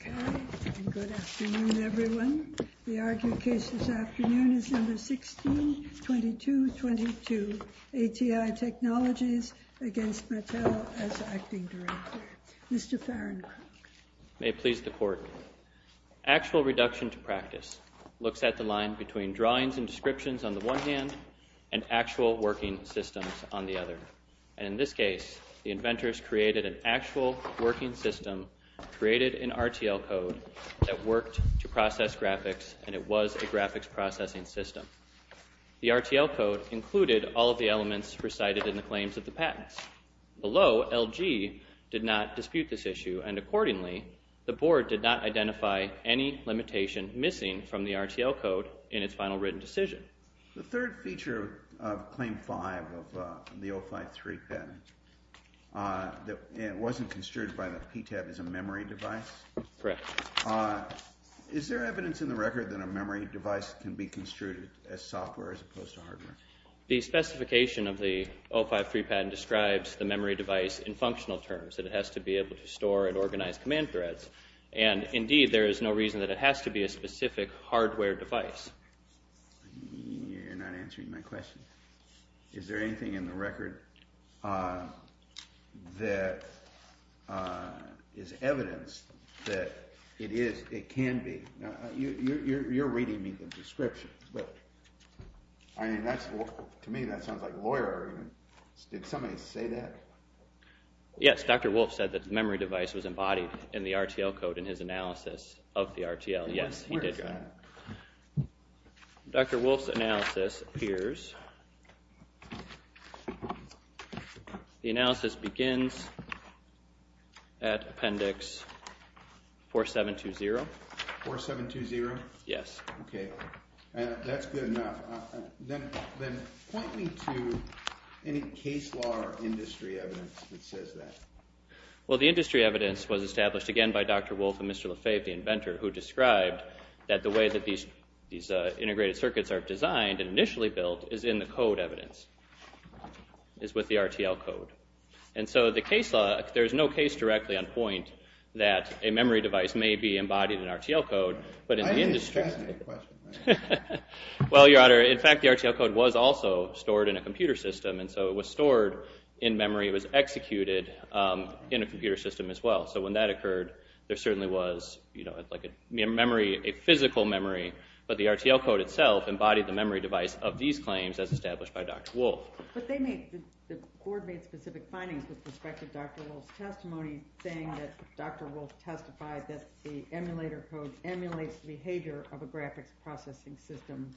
Okay, and good afternoon, everyone. The argued case this afternoon is Number 16-22-22, ATI Technologies against Matal as acting director. Mr. Farrancroft. May it please the Court. Actual reduction to practice looks at the line between drawings and descriptions on the one hand and actual working systems on the other. And in this case, the inventors created an actual working system created in RTL code that worked to process graphics, and it was a graphics processing system. The RTL code included all of the elements recited in the claims of the patents. Below, LG did not dispute this issue, and accordingly, the Board did not identify any limitation missing from the RTL code in its final written decision. The third feature of Claim 5 of the 053 patent wasn't construed by the PTAB as a memory device? Correct. Is there evidence in the record that a memory device can be construed as software as opposed to hardware? The specification of the 053 patent describes the memory device in functional terms, that it has to be able to store and organize command threads. And indeed, there is no reason that it has to be a specific hardware device. You're not answering my question. Is there anything in the record that is evidence that it can be? You're reading me the description, but to me that sounds like lawyer argument. Did somebody say that? Yes, Dr. Wolf said that the memory device was embodied in the RTL code in his analysis of the RTL. Yes, he did. Where is that? Dr. Wolf's analysis appears. The analysis begins at Appendix 4720. 4720? Yes. Okay. That's good enough. Then point me to any case law or industry evidence that says that. Well, the industry evidence was established again by Dr. Wolf and Mr. Lefebvre, the inventor, who described that the way that these integrated circuits are designed and initially built is in the code evidence, is with the RTL code. And so the case law, there's no case directly on point that a memory device may be embodied in RTL code, but in the industry… Why are you distracting me? Well, Your Honor, in fact, the RTL code was also stored in a computer system, and so it was stored in memory. It was executed in a computer system as well. So when that occurred, there certainly was memory, a physical memory, but the RTL code itself embodied the memory device of these claims as established by Dr. Wolf. But the board made specific findings with respect to Dr. Wolf's testimony, saying that Dr. Wolf testified that the emulator code emulates the behavior of a graphics processing system.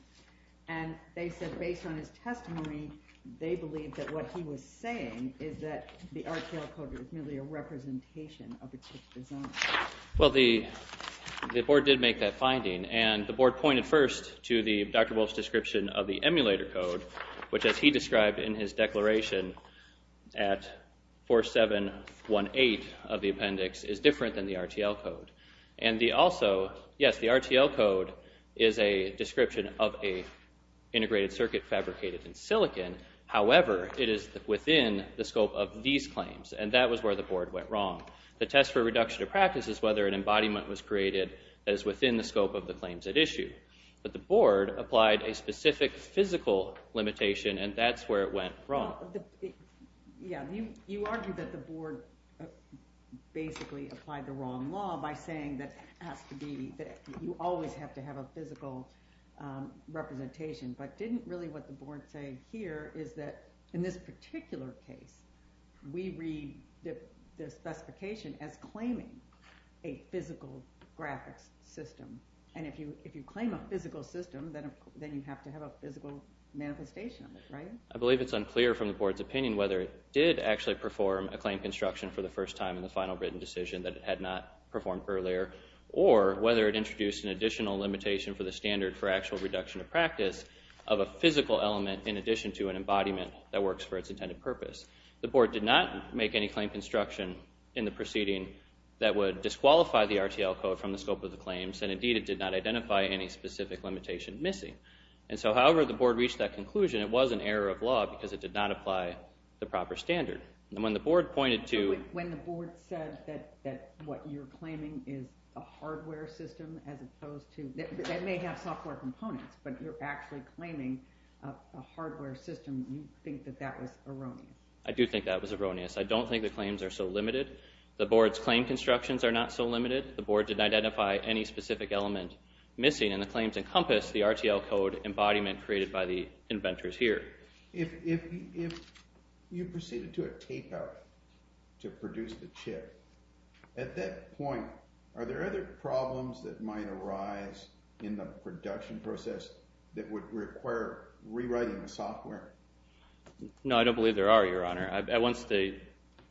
And they said, based on his testimony, they believed that what he was saying is that the RTL code is merely a representation of its design. Well, the board did make that finding, and the board pointed first to Dr. Wolf's description of the emulator code, which, as he described in his declaration at 4718 of the appendix, is different than the RTL code. And also, yes, the RTL code is a description of an integrated circuit fabricated in silicon. However, it is within the scope of these claims, and that was where the board went wrong. The test for reduction of practice is whether an embodiment was created that is within the scope of the claims at issue. But the board applied a specific physical limitation, and that's where it went wrong. You argue that the board basically applied the wrong law by saying that you always have to have a physical representation, but didn't really what the board say here is that in this particular case, we read the specification as claiming a physical graphics system. And if you claim a physical system, then you have to have a physical manifestation of it, right? I believe it's unclear from the board's opinion whether it did actually perform a claim construction for the first time in the final written decision that it had not performed earlier, or whether it introduced an additional limitation for the standard for actual reduction of practice of a physical element in addition to an embodiment that works for its intended purpose. The board did not make any claim construction in the proceeding that would disqualify the RTL code from the scope of the claims, and indeed, it did not identify any specific limitation missing. And so however the board reached that conclusion, it was an error of law because it did not apply the proper standard. And when the board pointed to... When the board said that what you're claiming is a hardware system as opposed to... that may have software components, but you're actually claiming a hardware system, you think that that was erroneous? I do think that was erroneous. I don't think the claims are so limited. The board's claim constructions are not so limited. The board did not identify any specific element missing, and the claims encompass the RTL code embodiment created by the inventors here. If you proceeded to a tape-out to produce the chip, at that point, are there other problems that might arise in the production process that would require rewriting the software? No, I don't believe there are, Your Honor. Once the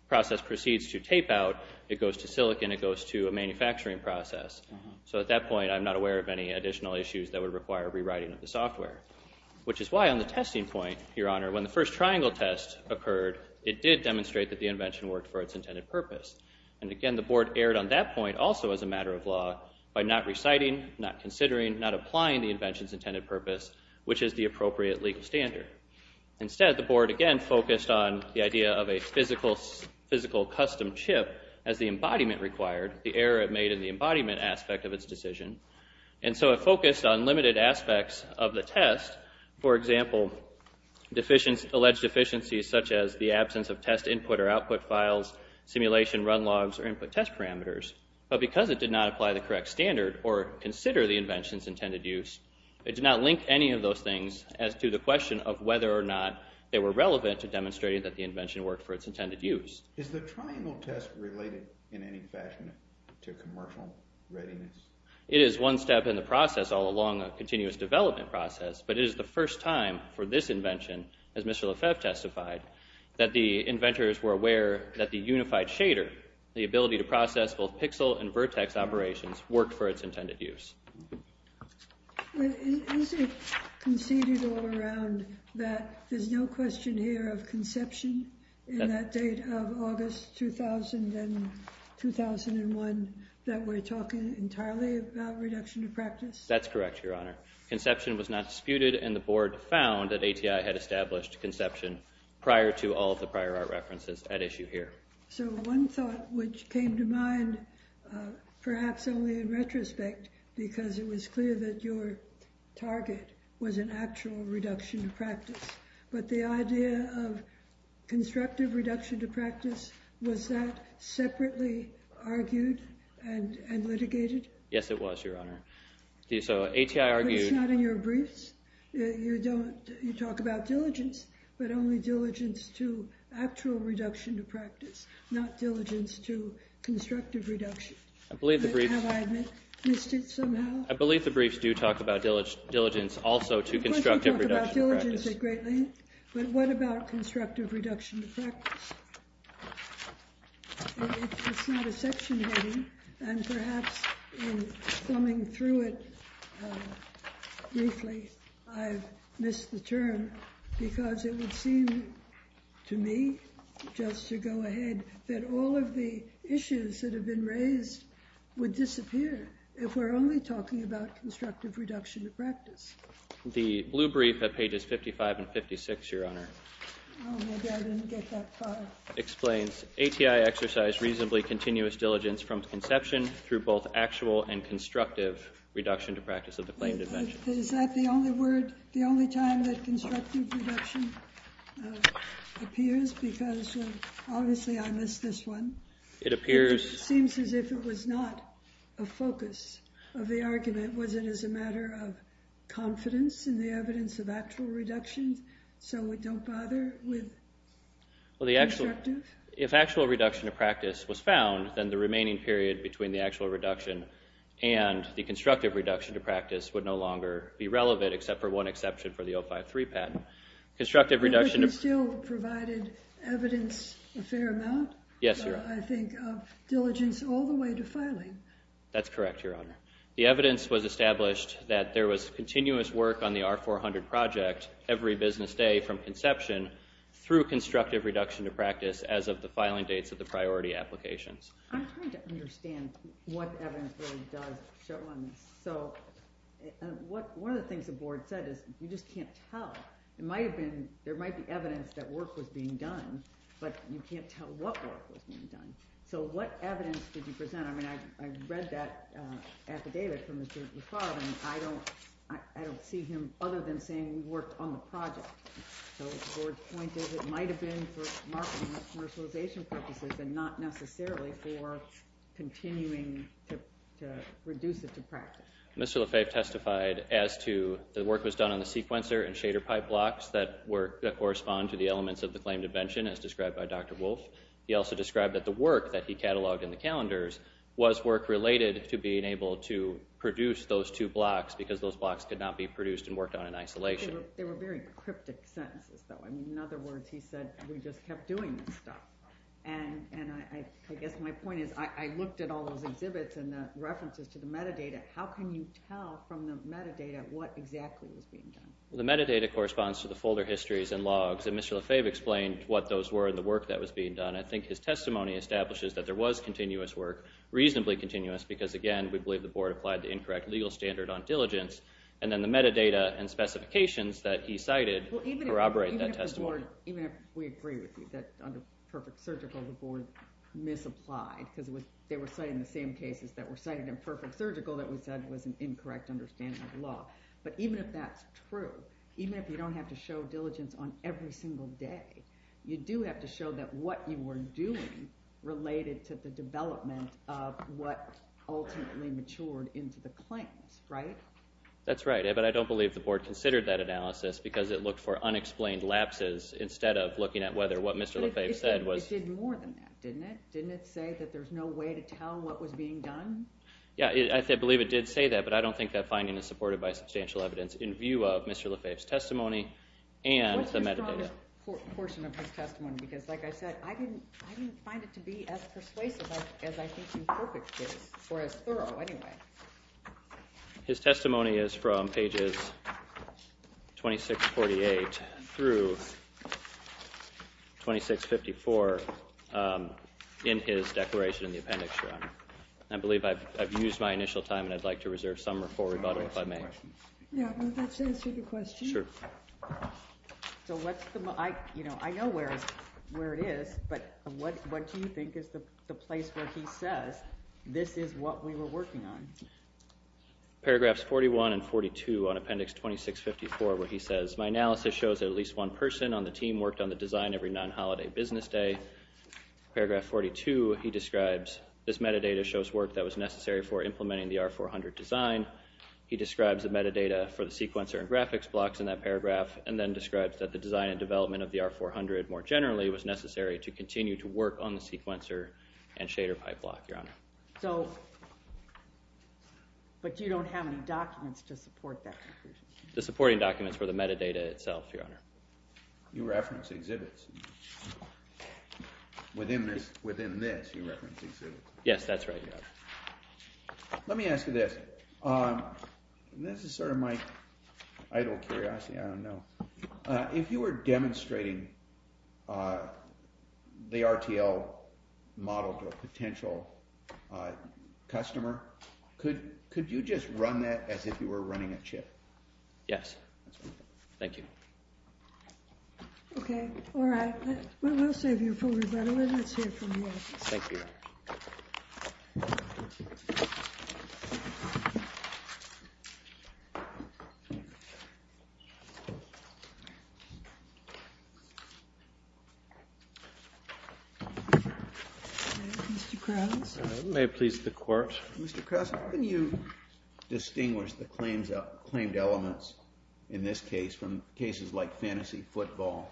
process proceeds to tape-out, it goes to silicon, it goes to a manufacturing process. So at that point, I'm not aware of any additional issues that would require rewriting of the software, which is why on the testing point, Your Honor, when the first triangle test occurred, it did demonstrate that the invention worked for its intended purpose. And again, the board erred on that point also as a matter of law by not reciting, not considering, not applying the invention's intended purpose, which is the appropriate legal standard. Instead, the board again focused on the idea of a physical custom chip as the embodiment required, the error it made in the embodiment aspect of its decision. And so it focused on limited aspects of the test. For example, alleged deficiencies such as the absence of test input or output files, simulation run logs, or input test parameters. But because it did not apply the correct standard or consider the invention's intended use, it did not link any of those things as to the question of whether or not they were relevant to demonstrating that the invention worked for its intended use. Is the triangle test related in any fashion to commercial readiness? It is one step in the process all along a continuous development process, but it is the first time for this invention, as Mr. Lefebvre testified, that the inventors were aware that the unified shader, the ability to process both pixel and vertex operations, worked for its intended use. Is it conceded all around that there's no question here of conception in that date of August 2000 and 2001 that we're talking entirely about reduction of practice? That's correct, Your Honor. Conception was not disputed, and the board found that ATI had established conception prior to all of the prior art references at issue here. So one thought which came to mind, perhaps only in retrospect, because it was clear that your target was an actual reduction of practice, but the idea of constructive reduction to practice, was that separately argued and litigated? Yes, it was, Your Honor. So ATI argued— But it's not in your briefs. You talk about diligence, but only diligence to actual reduction to practice, not diligence to constructive reduction. I believe the briefs— Have I missed it somehow? I believe the briefs do talk about diligence also to constructive reduction to practice. But what about constructive reduction to practice? It's not a section heading, and perhaps in thumbing through it briefly, I've missed the term because it would seem to me, just to go ahead, that all of the issues that have been raised would disappear if we're only talking about constructive reduction to practice. The blue brief at pages 55 and 56, Your Honor. Oh, maybe I didn't get that far. Explains, ATI exercised reasonably continuous diligence from conception through both actual and constructive reduction to practice of the claimed invention. Is that the only word, the only time that constructive reduction appears? Because obviously I missed this one. It appears— It seems as if it was not a focus of the argument. Was it as a matter of confidence in the evidence of actual reduction? So we don't bother with constructive? If actual reduction to practice was found, then the remaining period between the actual reduction and the constructive reduction to practice would no longer be relevant, except for one exception for the 053 patent. Constructive reduction— But if you still provided evidence a fair amount? Yes, Your Honor. I think of diligence all the way to filing. That's correct, Your Honor. The evidence was established that there was continuous work on the R-400 project every business day from conception through constructive reduction to practice as of the filing dates of the priority applications. I'm trying to understand what evidence really does show on this. So one of the things the Board said is you just can't tell. There might be evidence that work was being done, but you can't tell what work was being done. So what evidence did you present? I mean, I read that affidavit from Mr. Lafarve, and I don't see him other than saying we worked on the project. So the Board pointed it might have been for commercialization purposes and not necessarily for continuing to reduce it to practice. Mr. Lafarve testified as to the work was done on the sequencer and shader pipe blocks that correspond to the elements of the claimed invention, as described by Dr. Wolf. He also described that the work that he cataloged in the calendars was work related to being able to produce those two blocks because those blocks could not be produced and worked on in isolation. They were very cryptic sentences, though. In other words, he said we just kept doing this stuff. And I guess my point is I looked at all those exhibits and the references to the metadata. How can you tell from the metadata what exactly was being done? The metadata corresponds to the folder histories and logs, and Mr. Lafarve explained what those were and the work that was being done. And I think his testimony establishes that there was continuous work, reasonably continuous, because, again, we believe the Board applied the incorrect legal standard on diligence. And then the metadata and specifications that he cited corroborate that testimony. Even if we agree with you that under perfect surgical the Board misapplied because they were citing the same cases that were cited in perfect surgical that we said was an incorrect understanding of the law. But even if that's true, even if you don't have to show diligence on every single day, you do have to show that what you were doing related to the development of what ultimately matured into the claims, right? That's right, but I don't believe the Board considered that analysis because it looked for unexplained lapses instead of looking at whether what Mr. Lafarve said was... But it did more than that, didn't it? Didn't it say that there's no way to tell what was being done? Yeah, I believe it did say that, but I don't think that finding is supported by substantial evidence in view of Mr. Lafarve's testimony and the metadata. Well, that's a good portion of his testimony because, like I said, I didn't find it to be as persuasive as I think in perfect case, or as thorough anyway. His testimony is from pages 2648 through 2654 in his declaration in the appendix, Your Honor. I believe I've used my initial time, and I'd like to reserve some or full rebuttal if I may. Yeah, well, that's answered your question. Sure. So what's the... I know where it is, but what do you think is the place where he says this is what we were working on? Paragraphs 41 and 42 on appendix 2654 where he says, My analysis shows that at least one person on the team worked on the design every non-holiday business day. Paragraph 42, he describes, This metadata shows work that was necessary for implementing the R400 design. He describes the metadata for the sequencer and graphics blocks in that paragraph, and then describes that the design and development of the R400 more generally was necessary to continue to work on the sequencer and shader pipe block, Your Honor. So... But you don't have any documents to support that conclusion. The supporting documents were the metadata itself, Your Honor. You reference exhibits. Within this, you reference exhibits. Yes, that's right, Your Honor. Let me ask you this. This is sort of my idle curiosity. I don't know. If you were demonstrating the RTL model to a potential customer, could you just run that as if you were running a chip? Yes. Thank you. Okay, all right. We'll save you for rebuttal, and let's hear from you. Thank you. Thank you. Mr. Krause? It may please the Court. Mr. Krause, how can you distinguish the claimed elements in this case from cases like Fantasy Football,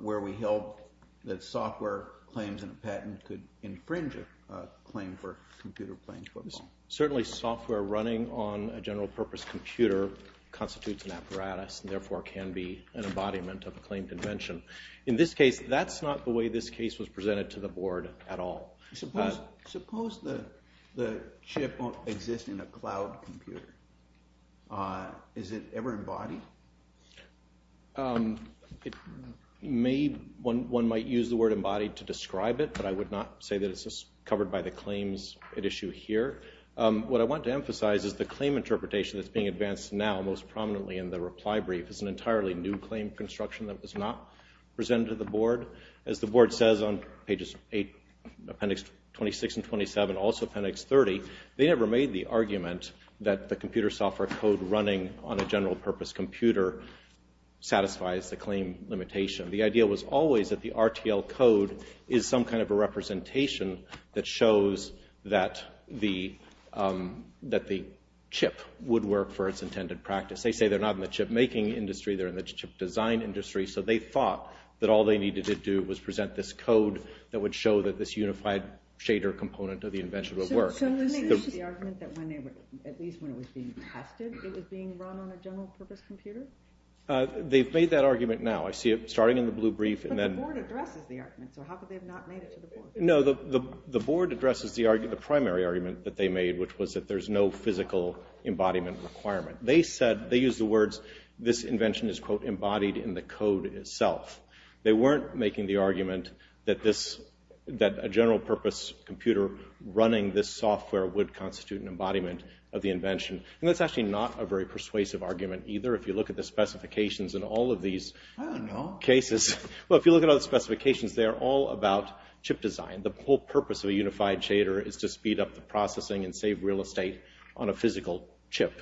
where we held that software claims in a patent could infringe a claim for computer-playing football? Certainly software running on a general-purpose computer constitutes an apparatus, and therefore can be an embodiment of a claimed invention. In this case, that's not the way this case was presented to the Board at all. Suppose the chip exists in a cloud computer. Is it ever embodied? It may... One might use the word embodied to describe it, but I would not say that it's covered by the claims at issue here. What I want to emphasize is the claim interpretation that's being advanced now most prominently in the reply brief is an entirely new claim construction that was not presented to the Board. As the Board says on pages 8, appendix 26 and 27, also appendix 30, they never made the argument that the computer software code running on a general-purpose computer satisfies the claim limitation. The idea was always that the RTL code is some kind of a representation that shows that the chip would work for its intended practice. They say they're not in the chip-making industry, they're in the chip-design industry, so they thought that all they needed to do was present this code that would show that this unified shader component of the invention would work. So they made the argument that at least when it was being tested, it was being run on a general-purpose computer? They've made that argument now. I see it starting in the blue brief and then... But the Board addresses the argument, so how could they have not made it to the Board? No, the Board addresses the primary argument that they made, which was that there's no physical embodiment requirement. They said, they used the words, this invention is, quote, embodied in the code itself. They weren't making the argument that a general-purpose computer running this software would constitute an embodiment of the invention. And that's actually not a very persuasive argument either. If you look at the specifications in all of these cases... I don't know. Well, if you look at all the specifications, they are all about chip design. The whole purpose of a unified shader is to speed up the processing and save real estate on a physical chip.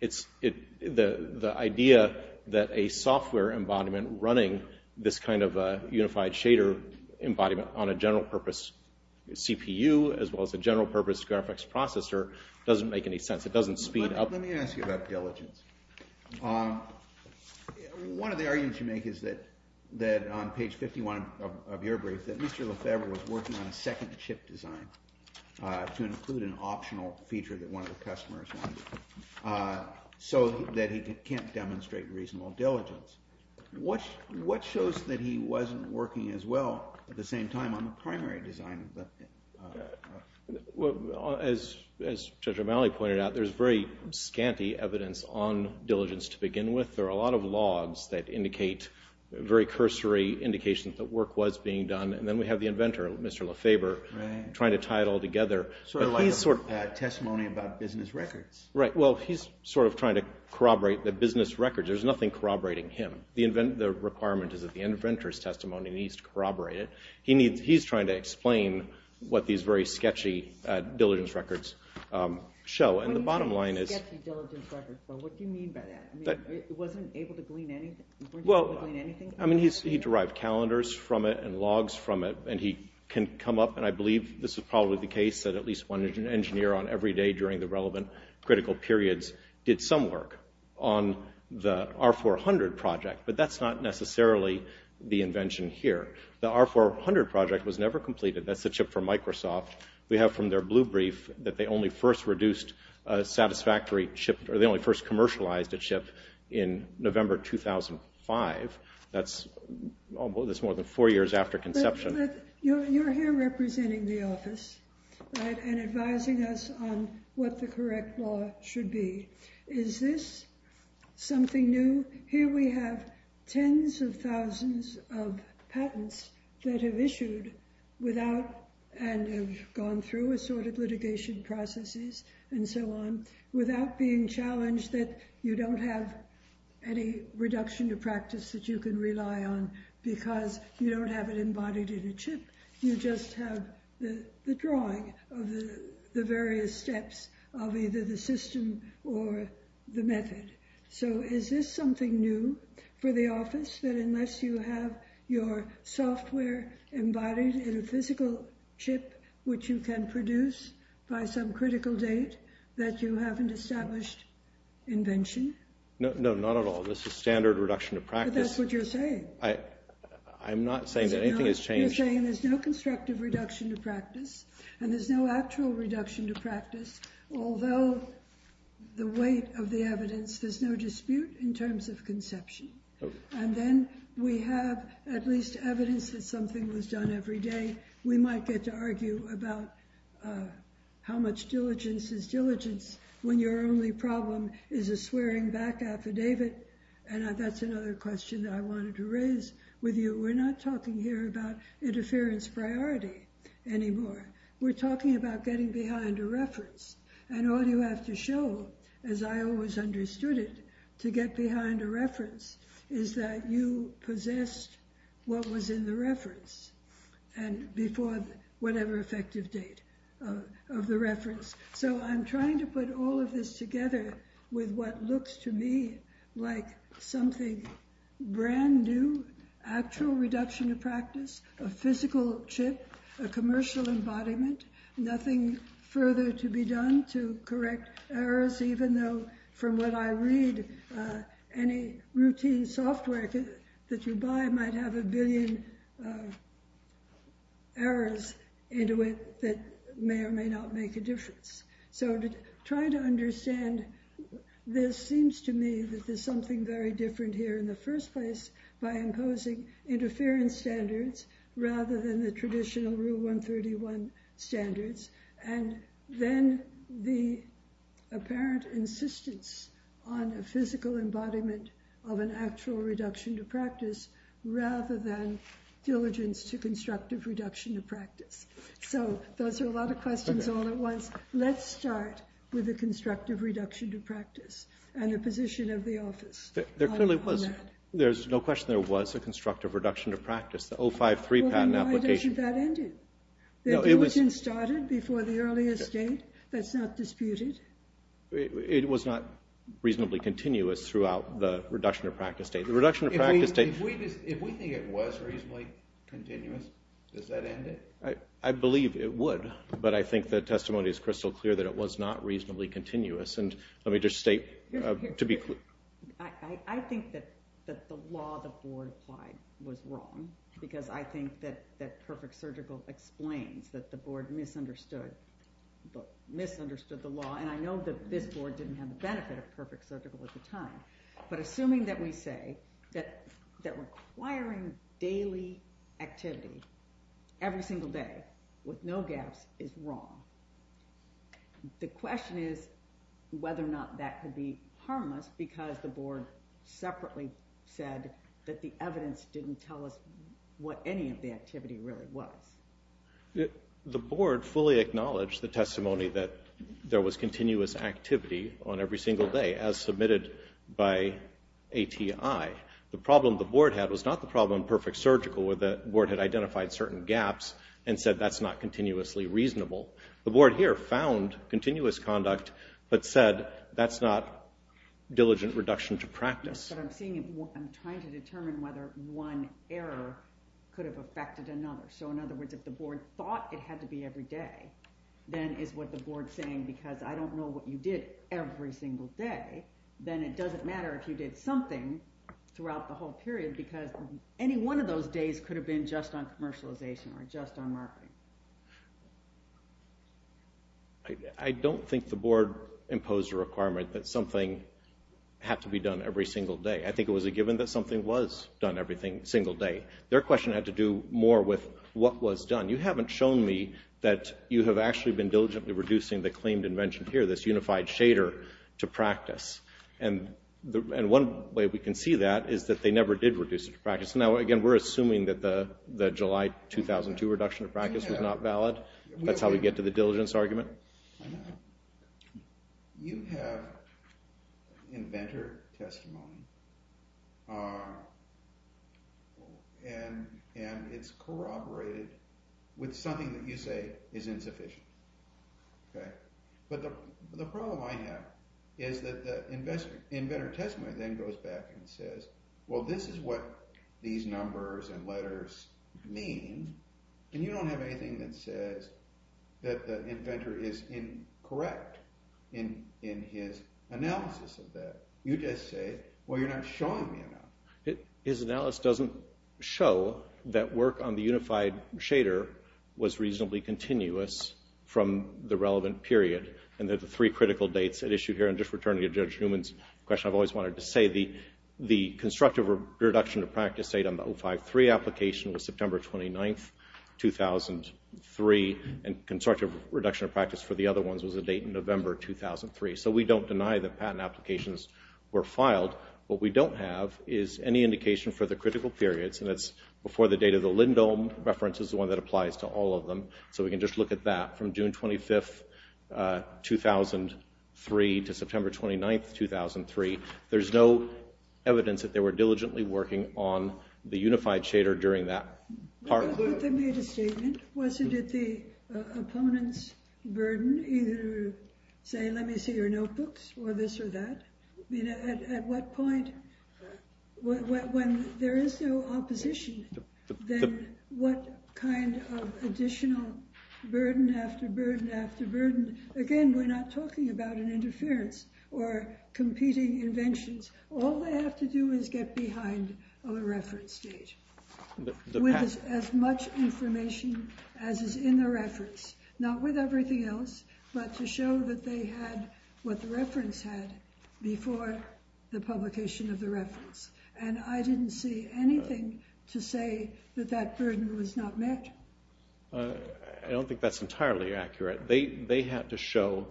The idea that a software embodiment running this kind of unified shader embodiment on a general-purpose CPU as well as a general-purpose graphics processor doesn't make any sense. It doesn't speed up... One of the arguments you make is that on page 51 of your brief, that Mr. Lefebvre was working on a second chip design to include an optional feature that one of the customers wanted so that he can't demonstrate reasonable diligence. What shows that he wasn't working as well at the same time on the primary design? As Judge O'Malley pointed out, there's very scanty evidence on diligence to begin with. There are a lot of logs that indicate very cursory indications that work was being done. And then we have the inventor, Mr. Lefebvre, trying to tie it all together. Sort of like a testimony about business records. Right. Well, he's sort of trying to corroborate the business records. There's nothing corroborating him. The requirement is that the inventor's testimony needs to corroborate it. He's trying to explain what these very sketchy diligence records show. And the bottom line is... What do you mean by that? It wasn't able to glean anything? Well, I mean, he derived calendars from it and logs from it. And he can come up, and I believe this is probably the case, that at least one engineer on every day during the relevant critical periods did some work on the R400 project. But that's not necessarily the invention here. The R400 project was never completed. That's the chip from Microsoft. We have from their blue brief that they only first reduced a satisfactory chip, or they only first commercialized a chip, in November 2005. That's more than four years after conception. But you're here representing the office, right, and advising us on what the correct law should be. Here we have tens of thousands of patents that have issued without... and have gone through assorted litigation processes and so on, without being challenged that you don't have any reduction to practice that you can rely on because you don't have it embodied in a chip. You just have the drawing of the various steps of either the system or the method. So is this something new for the office, that unless you have your software embodied in a physical chip which you can produce by some critical date, that you haven't established invention? No, not at all. This is standard reduction to practice. But that's what you're saying. I'm not saying that anything has changed. You're saying there's no constructive reduction to practice, and there's no actual reduction to practice, although the weight of the evidence... there's no dispute in terms of conception. And then we have at least evidence that something was done every day. We might get to argue about how much diligence is diligence when your only problem is a swearing-back affidavit. And that's another question that I wanted to raise with you. We're not talking here about interference priority anymore. We're talking about getting behind a reference. And all you have to show, as I always understood it, to get behind a reference is that you possessed what was in the reference before whatever effective date of the reference. So I'm trying to put all of this together with what looks to me like something brand new, actual reduction to practice, a physical chip, a commercial embodiment, nothing further to be done to correct errors, even though from what I read, any routine software that you buy might have a billion errors into it that may or may not make a difference. So to try to understand, this seems to me that there's something very different here in the first place by imposing interference standards rather than the traditional Rule 131 standards. And then the apparent insistence on a physical embodiment of an actual reduction to practice rather than diligence to constructive reduction to practice. So those are a lot of questions all at once. Let's start with the constructive reduction to practice and the position of the office on that. There's no question there was a constructive reduction to practice, the 053 patent application. Well, then why doesn't that end it? It wasn't started before the earliest date. That's not disputed. It was not reasonably continuous throughout the reduction to practice date. The reduction to practice date... If we think it was reasonably continuous, does that end it? I believe it would, but I think the testimony is crystal clear that it was not reasonably continuous. And let me just state to be clear... I think that the law the board applied was wrong because I think that Perfect Surgical explains that the board misunderstood the law, and I know that this board didn't have the benefit of Perfect Surgical at the time. But assuming that we say that requiring daily activity every single day with no gaps is wrong, the question is whether or not that could be harmless because the board separately said that the evidence didn't tell us what any of the activity really was. The board fully acknowledged the testimony that there was continuous activity on every single day, as submitted by ATI. The problem the board had was not the problem in Perfect Surgical where the board had identified certain gaps and said that's not continuously reasonable. The board here found continuous conduct but said that's not diligent reduction to practice. But I'm trying to determine whether one error could have affected another. So in other words, if the board thought it had to be every day, then is what the board's saying because I don't know what you did every single day, then it doesn't matter if you did something throughout the whole period because any one of those days could have been just on commercialization or just on marketing. I don't think the board imposed a requirement that something had to be done every single day. I think it was a given that something was done every single day. Their question had to do more with what was done. You haven't shown me that you have actually been diligently reducing the claimed invention here, this unified shader, to practice. And one way we can see that is that they never did reduce it to practice. Now, again, we're assuming that the July 2002 reduction to practice was not valid. That's how we get to the diligence argument. You have inventor testimony and it's corroborated with something that you say is insufficient. But the problem I have is that the inventor testimony then goes back and says, well, this is what these numbers and letters mean, and you don't have anything that says that the inventor is incorrect in his analysis of that. You just say, well, you're not showing me enough. His analysis doesn't show that work on the unified shader was reasonably continuous from the relevant period, and that the three critical dates at issue here, and just returning to Judge Newman's question, I've always wanted to say the constructive reduction to practice date on the 053 application was September 29, 2003, and constructive reduction of practice for the other ones was a date in November 2003. So we don't deny that patent applications were filed. What we don't have is any indication for the critical periods, and that's before the date of the Lindholm reference is the one that applies to all of them. So we can just look at that from June 25, 2003, to September 29, 2003. There's no evidence that they were diligently working on the unified shader during that part. They made a statement. Wasn't it the opponent's burden either to say, let me see your notebooks, or this or that? At what point, when there is no opposition, then what kind of additional burden after burden after burden? Again, we're not talking about an interference or competing inventions. All they have to do is get behind a reference date with as much information as is in the reference, not with everything else, but to show that they had what the reference had before the publication of the reference. And I didn't see anything to say that that burden was not met. I don't think that's entirely accurate. They had to show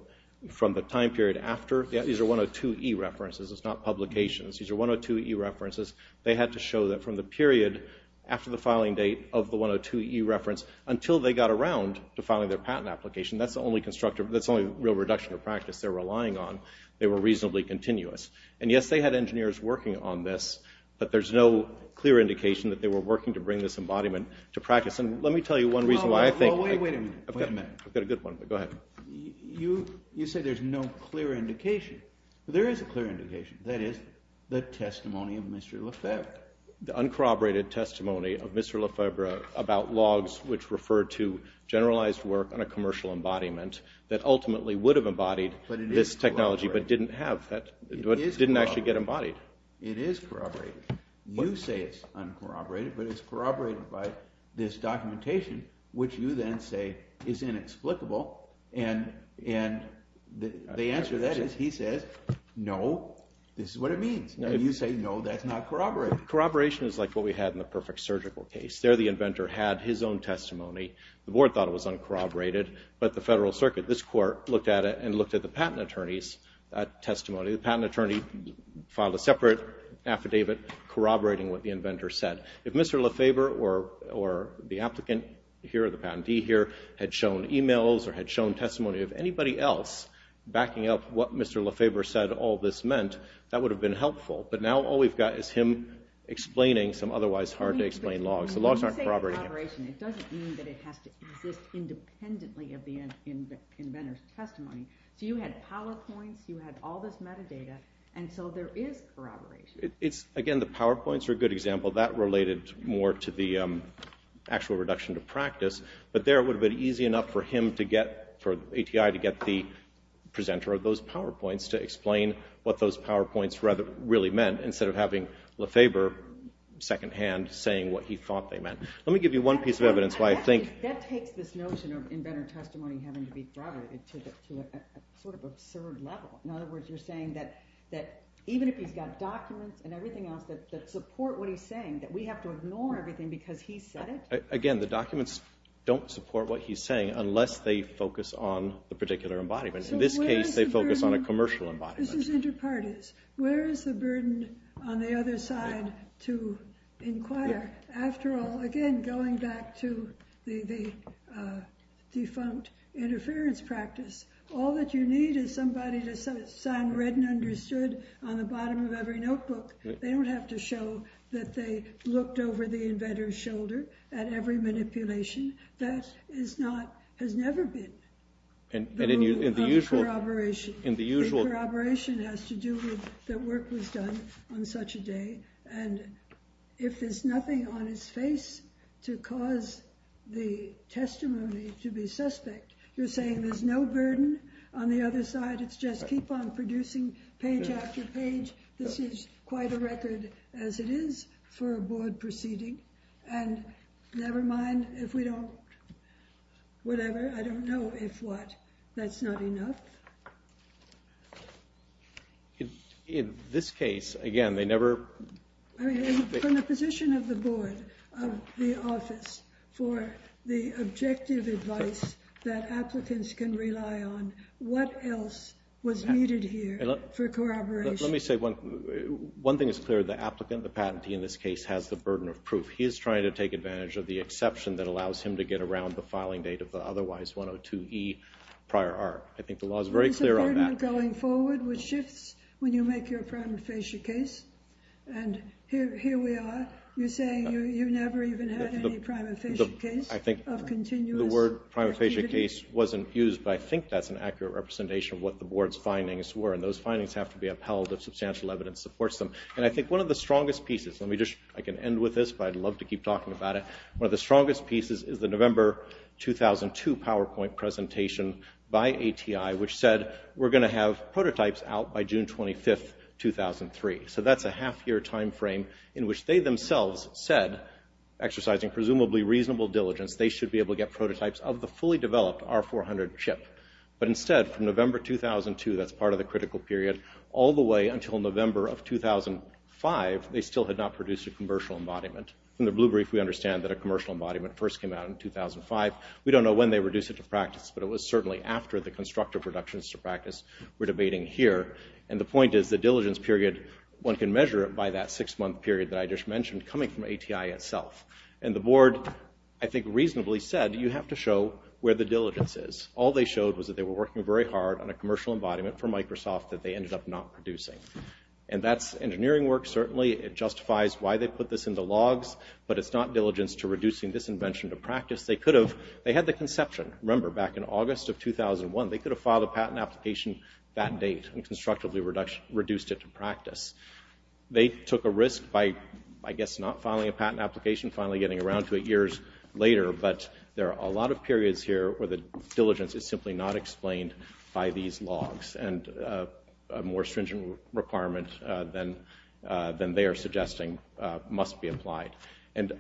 from the time period after. These are 102e references. It's not publications. These are 102e references. They had to show that from the period after the filing date of the 102e reference until they got around to filing their patent application. That's the only real reduction of practice they're relying on. They were reasonably continuous. And yes, they had engineers working on this, but there's no clear indication that they were working to bring this embodiment to practice. And let me tell you one reason why I think... Go ahead. You say there's no clear indication. There is a clear indication. That is the testimony of Mr. Lefebvre. The uncorroborated testimony of Mr. Lefebvre about logs which refer to generalized work on a commercial embodiment that ultimately would have embodied this technology but didn't have, didn't actually get embodied. It is corroborated. You say it's uncorroborated, but it's corroborated by this documentation, which you then say is inexplicable. And the answer to that is he says, no, this is what it means. And you say, no, that's not corroborated. Corroboration is like what we had in the Perfect Surgical case. There the inventor had his own testimony. The board thought it was uncorroborated, but the federal circuit, this court, looked at it and looked at the patent attorney's testimony. The patent attorney filed a separate affidavit corroborating what the inventor said. If Mr. Lefebvre or the applicant here, the patentee here, had shown emails or had shown testimony of anybody else backing up what Mr. Lefebvre said all this meant, that would have been helpful. But now all we've got is him explaining some otherwise hard-to-explain logs. So logs aren't corroborated. When you say corroboration, it doesn't mean that it has to exist independently of the inventor's testimony. So you had PowerPoints, you had all this metadata, and so there is corroboration. Again, the PowerPoints are a good example. That related more to the actual reduction to practice, but there it would have been easy enough for him to get, for ATI to get the presenter of those PowerPoints to explain what those PowerPoints really meant instead of having Lefebvre secondhand saying what he thought they meant. Let me give you one piece of evidence why I think... That takes this notion of inventor testimony having to be corroborated to a sort of absurd level. In other words, you're saying that even if he's got documents and everything else that support what he's saying, that we have to ignore everything because he said it? Again, the documents don't support what he's saying unless they focus on the particular embodiment. In this case, they focus on a commercial embodiment. This is inter-parties. Where is the burden on the other side to inquire? After all, again, going back to the defunct interference practice, all that you need is somebody to sign read and understood on the bottom of every notebook. They don't have to show that they looked over the inventor's shoulder at every manipulation. That has never been the rule of corroboration. The corroboration has to do with that work was done on such a day. And if there's nothing on his face to cause the testimony to be suspect, you're saying there's no burden on the other side. It's just keep on producing page after page. This is quite a record as it is for a board proceeding. And never mind if we don't, whatever, I don't know if what. That's not enough. In this case, again, they never... From the position of the board, of the office, for the objective advice that applicants can rely on, what else was needed here for corroboration? Let me say one thing is clear. The applicant, the patentee in this case, has the burden of proof. He is trying to take advantage of the exception that allows him to get around the filing date of the otherwise 102E prior art. I think the law is very clear on that. There's a burden going forward which shifts when you make your prima facie case. And here we are. You're saying you never even had any prima facie case of continuous... I think the word prima facie case wasn't used, but I think that's an accurate representation of what the board's findings were. And those findings have to be upheld if substantial evidence supports them. And I think one of the strongest pieces... I can end with this, but I'd love to keep talking about it. One of the strongest pieces is the November 2002 PowerPoint presentation by ATI which said we're going to have prototypes out by June 25, 2003. So that's a half-year time frame in which they themselves said, exercising presumably reasonable diligence, they should be able to get prototypes of the fully developed R400 chip. But instead, from November 2002, that's part of the critical period, all the way until November of 2005, they still had not produced a commercial embodiment. From the blue brief, we understand that a commercial embodiment first came out in 2005. We don't know when they reduced it to practice, but it was certainly after the constructive reductions to practice we're debating here. And the point is the diligence period, one can measure it by that six-month period that I just mentioned coming from ATI itself. And the board, I think, reasonably said, you have to show where the diligence is. All they showed was that they were working very hard on a commercial embodiment for Microsoft that they ended up not producing. And that's engineering work, certainly. It justifies why they put this into logs, but it's not diligence to reducing this invention to practice. They could have. They had the conception, remember, back in August of 2001. They could have filed a patent application that date and constructively reduced it to practice. They took a risk by, I guess, not filing a patent application, finally getting around to it years later. But there are a lot of periods here where the diligence is simply not explained by these logs. And a more stringent requirement than they are suggesting must be applied. And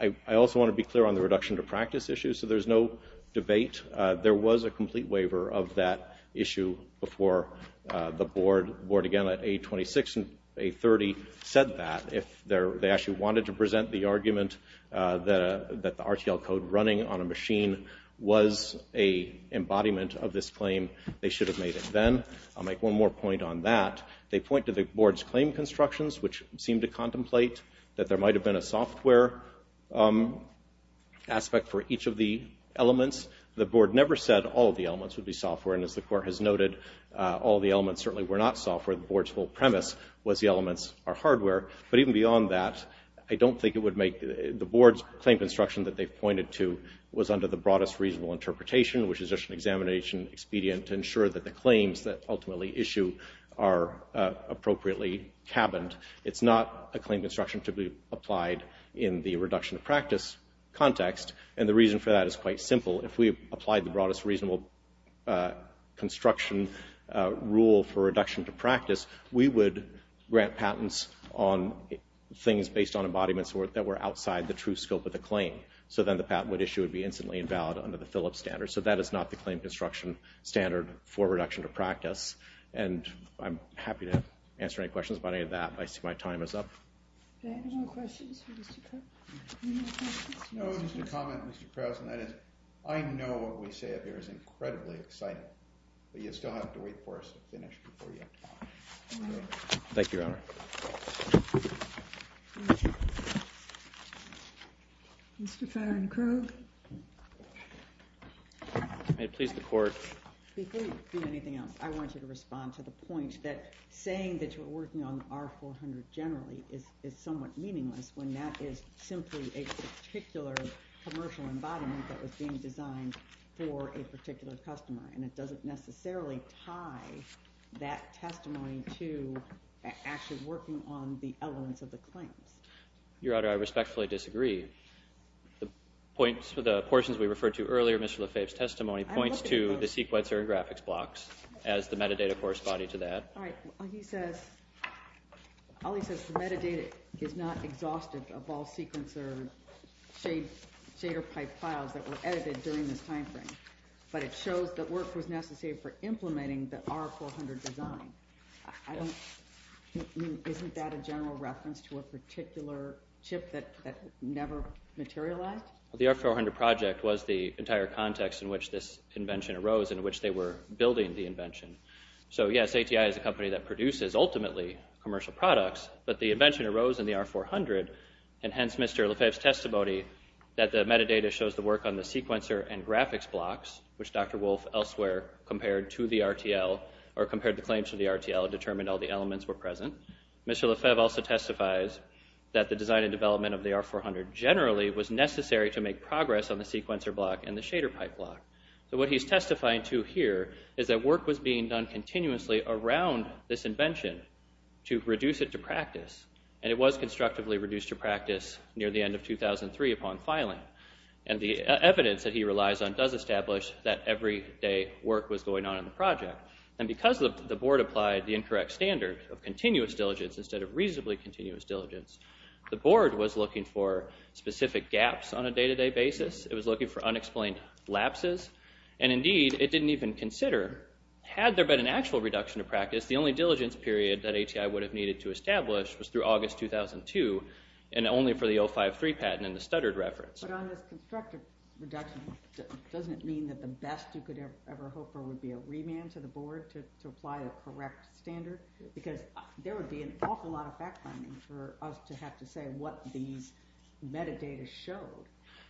I also want to be clear on the reduction to practice issue. So there's no debate. There was a complete waiver of that issue before the board. The board, again, at A26 and A30 said that. If they actually wanted to present the argument that the RTL code running on a machine was an embodiment of this claim, they should have made it then. I'll make one more point on that. They point to the board's claim constructions, which seem to contemplate that there might have been a software aspect for each of the elements. The board never said all of the elements would be software. And as the court has noted, all of the elements certainly were not software. The board's whole premise was the elements are hardware. But even beyond that, I don't think it would make the board's claim construction that they've pointed to was under the broadest reasonable interpretation, which is just an examination expedient to ensure that the claims that ultimately issue are appropriately cabined. It's not a claim construction to be applied in the reduction to practice context. And the reason for that is quite simple. If we applied the broadest reasonable construction rule for reduction to practice, we would grant patents on things based on embodiments that were outside the true scope of the claim. So then the patent would issue would be instantly invalid under the Phillips standard. So that is not the claim construction standard for reduction to practice. And I'm happy to answer any questions about any of that. I see my time is up. Any more questions for Mr. Krause? No, just a comment, Mr. Krause. And that is I know what we say up here is incredibly exciting. But you still have to wait for us to finish before you can talk. Thank you, Your Honor. Mr. Farron-Krug. May it please the Court. Before you do anything else, I want you to respond to the point that saying that you're working on R-400 generally is somewhat meaningless when that is simply a particular commercial embodiment that was being designed for a particular customer. And it doesn't necessarily tie that testimony to actually working on the elements of the claims. Your Honor, I respectfully disagree. The portions we referred to earlier, Mr. Lefebvre's testimony, points to the sequencer and graphics blocks as the metadata corresponding to that. All right. All he says is the metadata is not exhaustive of all sequencer shader pipe files that were edited during this time frame. But it shows that work was necessary for implementing the R-400 design. Isn't that a general reference to a particular chip that never materialized? The R-400 project was the entire context in which this invention arose and in which they were building the invention. So, yes, ATI is a company that produces, ultimately, commercial products, but the invention arose in the R-400, and hence Mr. Lefebvre's testimony that the metadata shows the work on the sequencer and graphics blocks, which Dr. Wolf elsewhere compared to the RTL or compared the claims to the RTL and determined all the elements were present. Mr. Lefebvre also testifies that the design and development of the R-400 generally was necessary to make progress on the sequencer block and the shader pipe block. So what he's testifying to here is that work was being done continuously around this invention to reduce it to practice, and it was constructively reduced to practice near the end of 2003 upon filing. And the evidence that he relies on does establish that everyday work was going on in the project. And because the board applied the incorrect standard of continuous diligence instead of reasonably continuous diligence, the board was looking for specific gaps on a day-to-day basis. It was looking for unexplained lapses. And indeed, it didn't even consider, had there been an actual reduction to practice, the only diligence period that ATI would have needed to establish was through August 2002 and only for the 053 patent and the stuttered reference. But on this constructive reduction, doesn't it mean that the best you could ever hope for would be a remand to the board to apply the correct standard? Because there would be an awful lot of fact-finding for us to have to say what these metadata showed.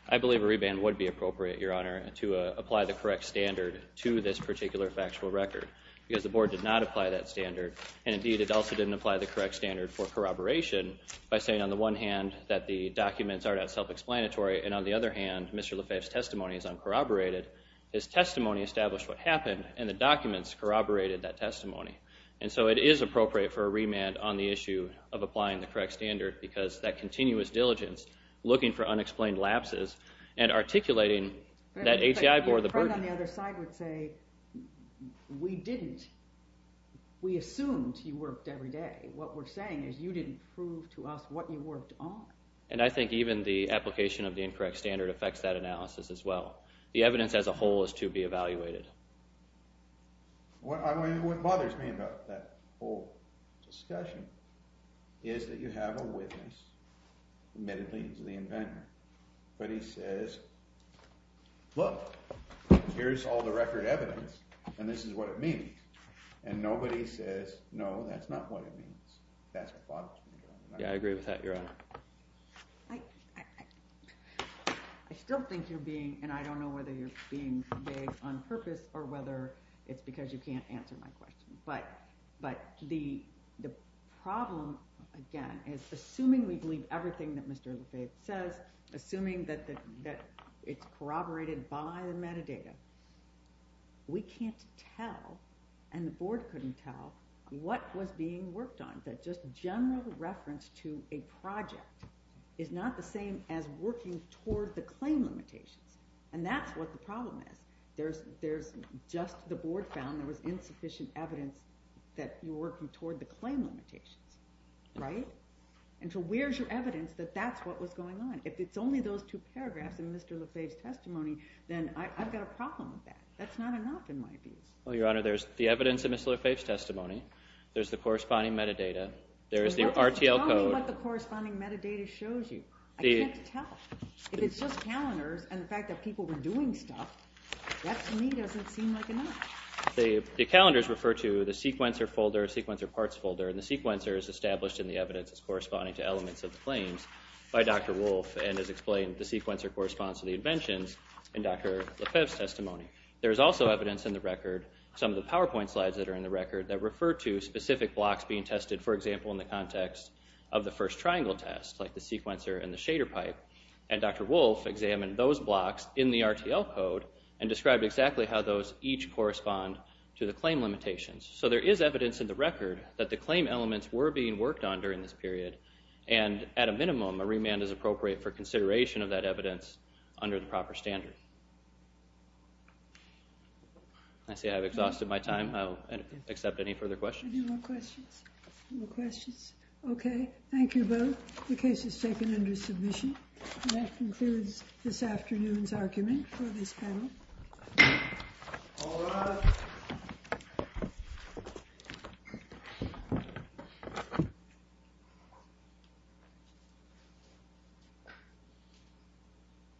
I believe a remand would be appropriate, Your Honor, to apply the correct standard to this particular factual record because the board did not apply that standard, and indeed it also didn't apply the correct standard for corroboration by saying on the one hand that the documents are not self-explanatory, and on the other hand, Mr. Lefebvre's testimony is uncorroborated. His testimony established what happened, and the documents corroborated that testimony. And so it is appropriate for a remand on the issue of applying the correct standard because that continuous diligence, looking for unexplained lapses, and articulating that ATI bore the burden. Your friend on the other side would say, We didn't. We assumed you worked every day. What we're saying is you didn't prove to us what you worked on. And I think even the application of the incorrect standard affects that analysis as well. The evidence as a whole is to be evaluated. What bothers me about that whole discussion is that you have a witness, admittedly he's the inventor, but he says, Look, here's all the record evidence, and this is what it means. And nobody says, No, that's not what it means. That's what bothers me. Yeah, I agree with that, Your Honor. I still think you're being, and I don't know whether you're being vague on purpose or whether it's because you can't answer my question. But the problem, again, is assuming we believe everything that Mr. Lefebvre says, assuming that it's corroborated by the metadata, we can't tell, and the Board couldn't tell, what was being worked on. That just general reference to a project is not the same as working toward the claim limitations. And that's what the problem is. There's just the Board found there was insufficient evidence that you were working toward the claim limitations, right? And so where's your evidence that that's what was going on? If it's only those two paragraphs in Mr. Lefebvre's testimony, then I've got a problem with that. That's not enough in my views. Well, Your Honor, there's the evidence in Mr. Lefebvre's testimony. There's the corresponding metadata. There is the RTL code. Tell me what the corresponding metadata shows you. I can't tell. If it's just calendars and the fact that people were doing stuff, that to me doesn't seem like enough. The calendars refer to the sequencer folder, sequencer parts folder, and the sequencer is established in the evidence as corresponding to elements of the claims by Dr. Wolfe and is explained the sequencer corresponds to the inventions in Dr. Lefebvre's testimony. There is also evidence in the record, some of the PowerPoint slides that are in the record, that refer to specific blocks being tested, for example, in the context of the first triangle test, like the sequencer and the shader pipe, and Dr. Wolfe examined those blocks in the RTL code and described exactly how those each correspond to the claim limitations. So there is evidence in the record that the claim elements were being worked on during this period, and at a minimum, a remand is appropriate for consideration of that evidence under the proper standard. I see I have exhausted my time. I'll accept any further questions. Any more questions? Okay, thank you both. The case is taken under submission. And that concludes this afternoon's argument for this panel. All rise.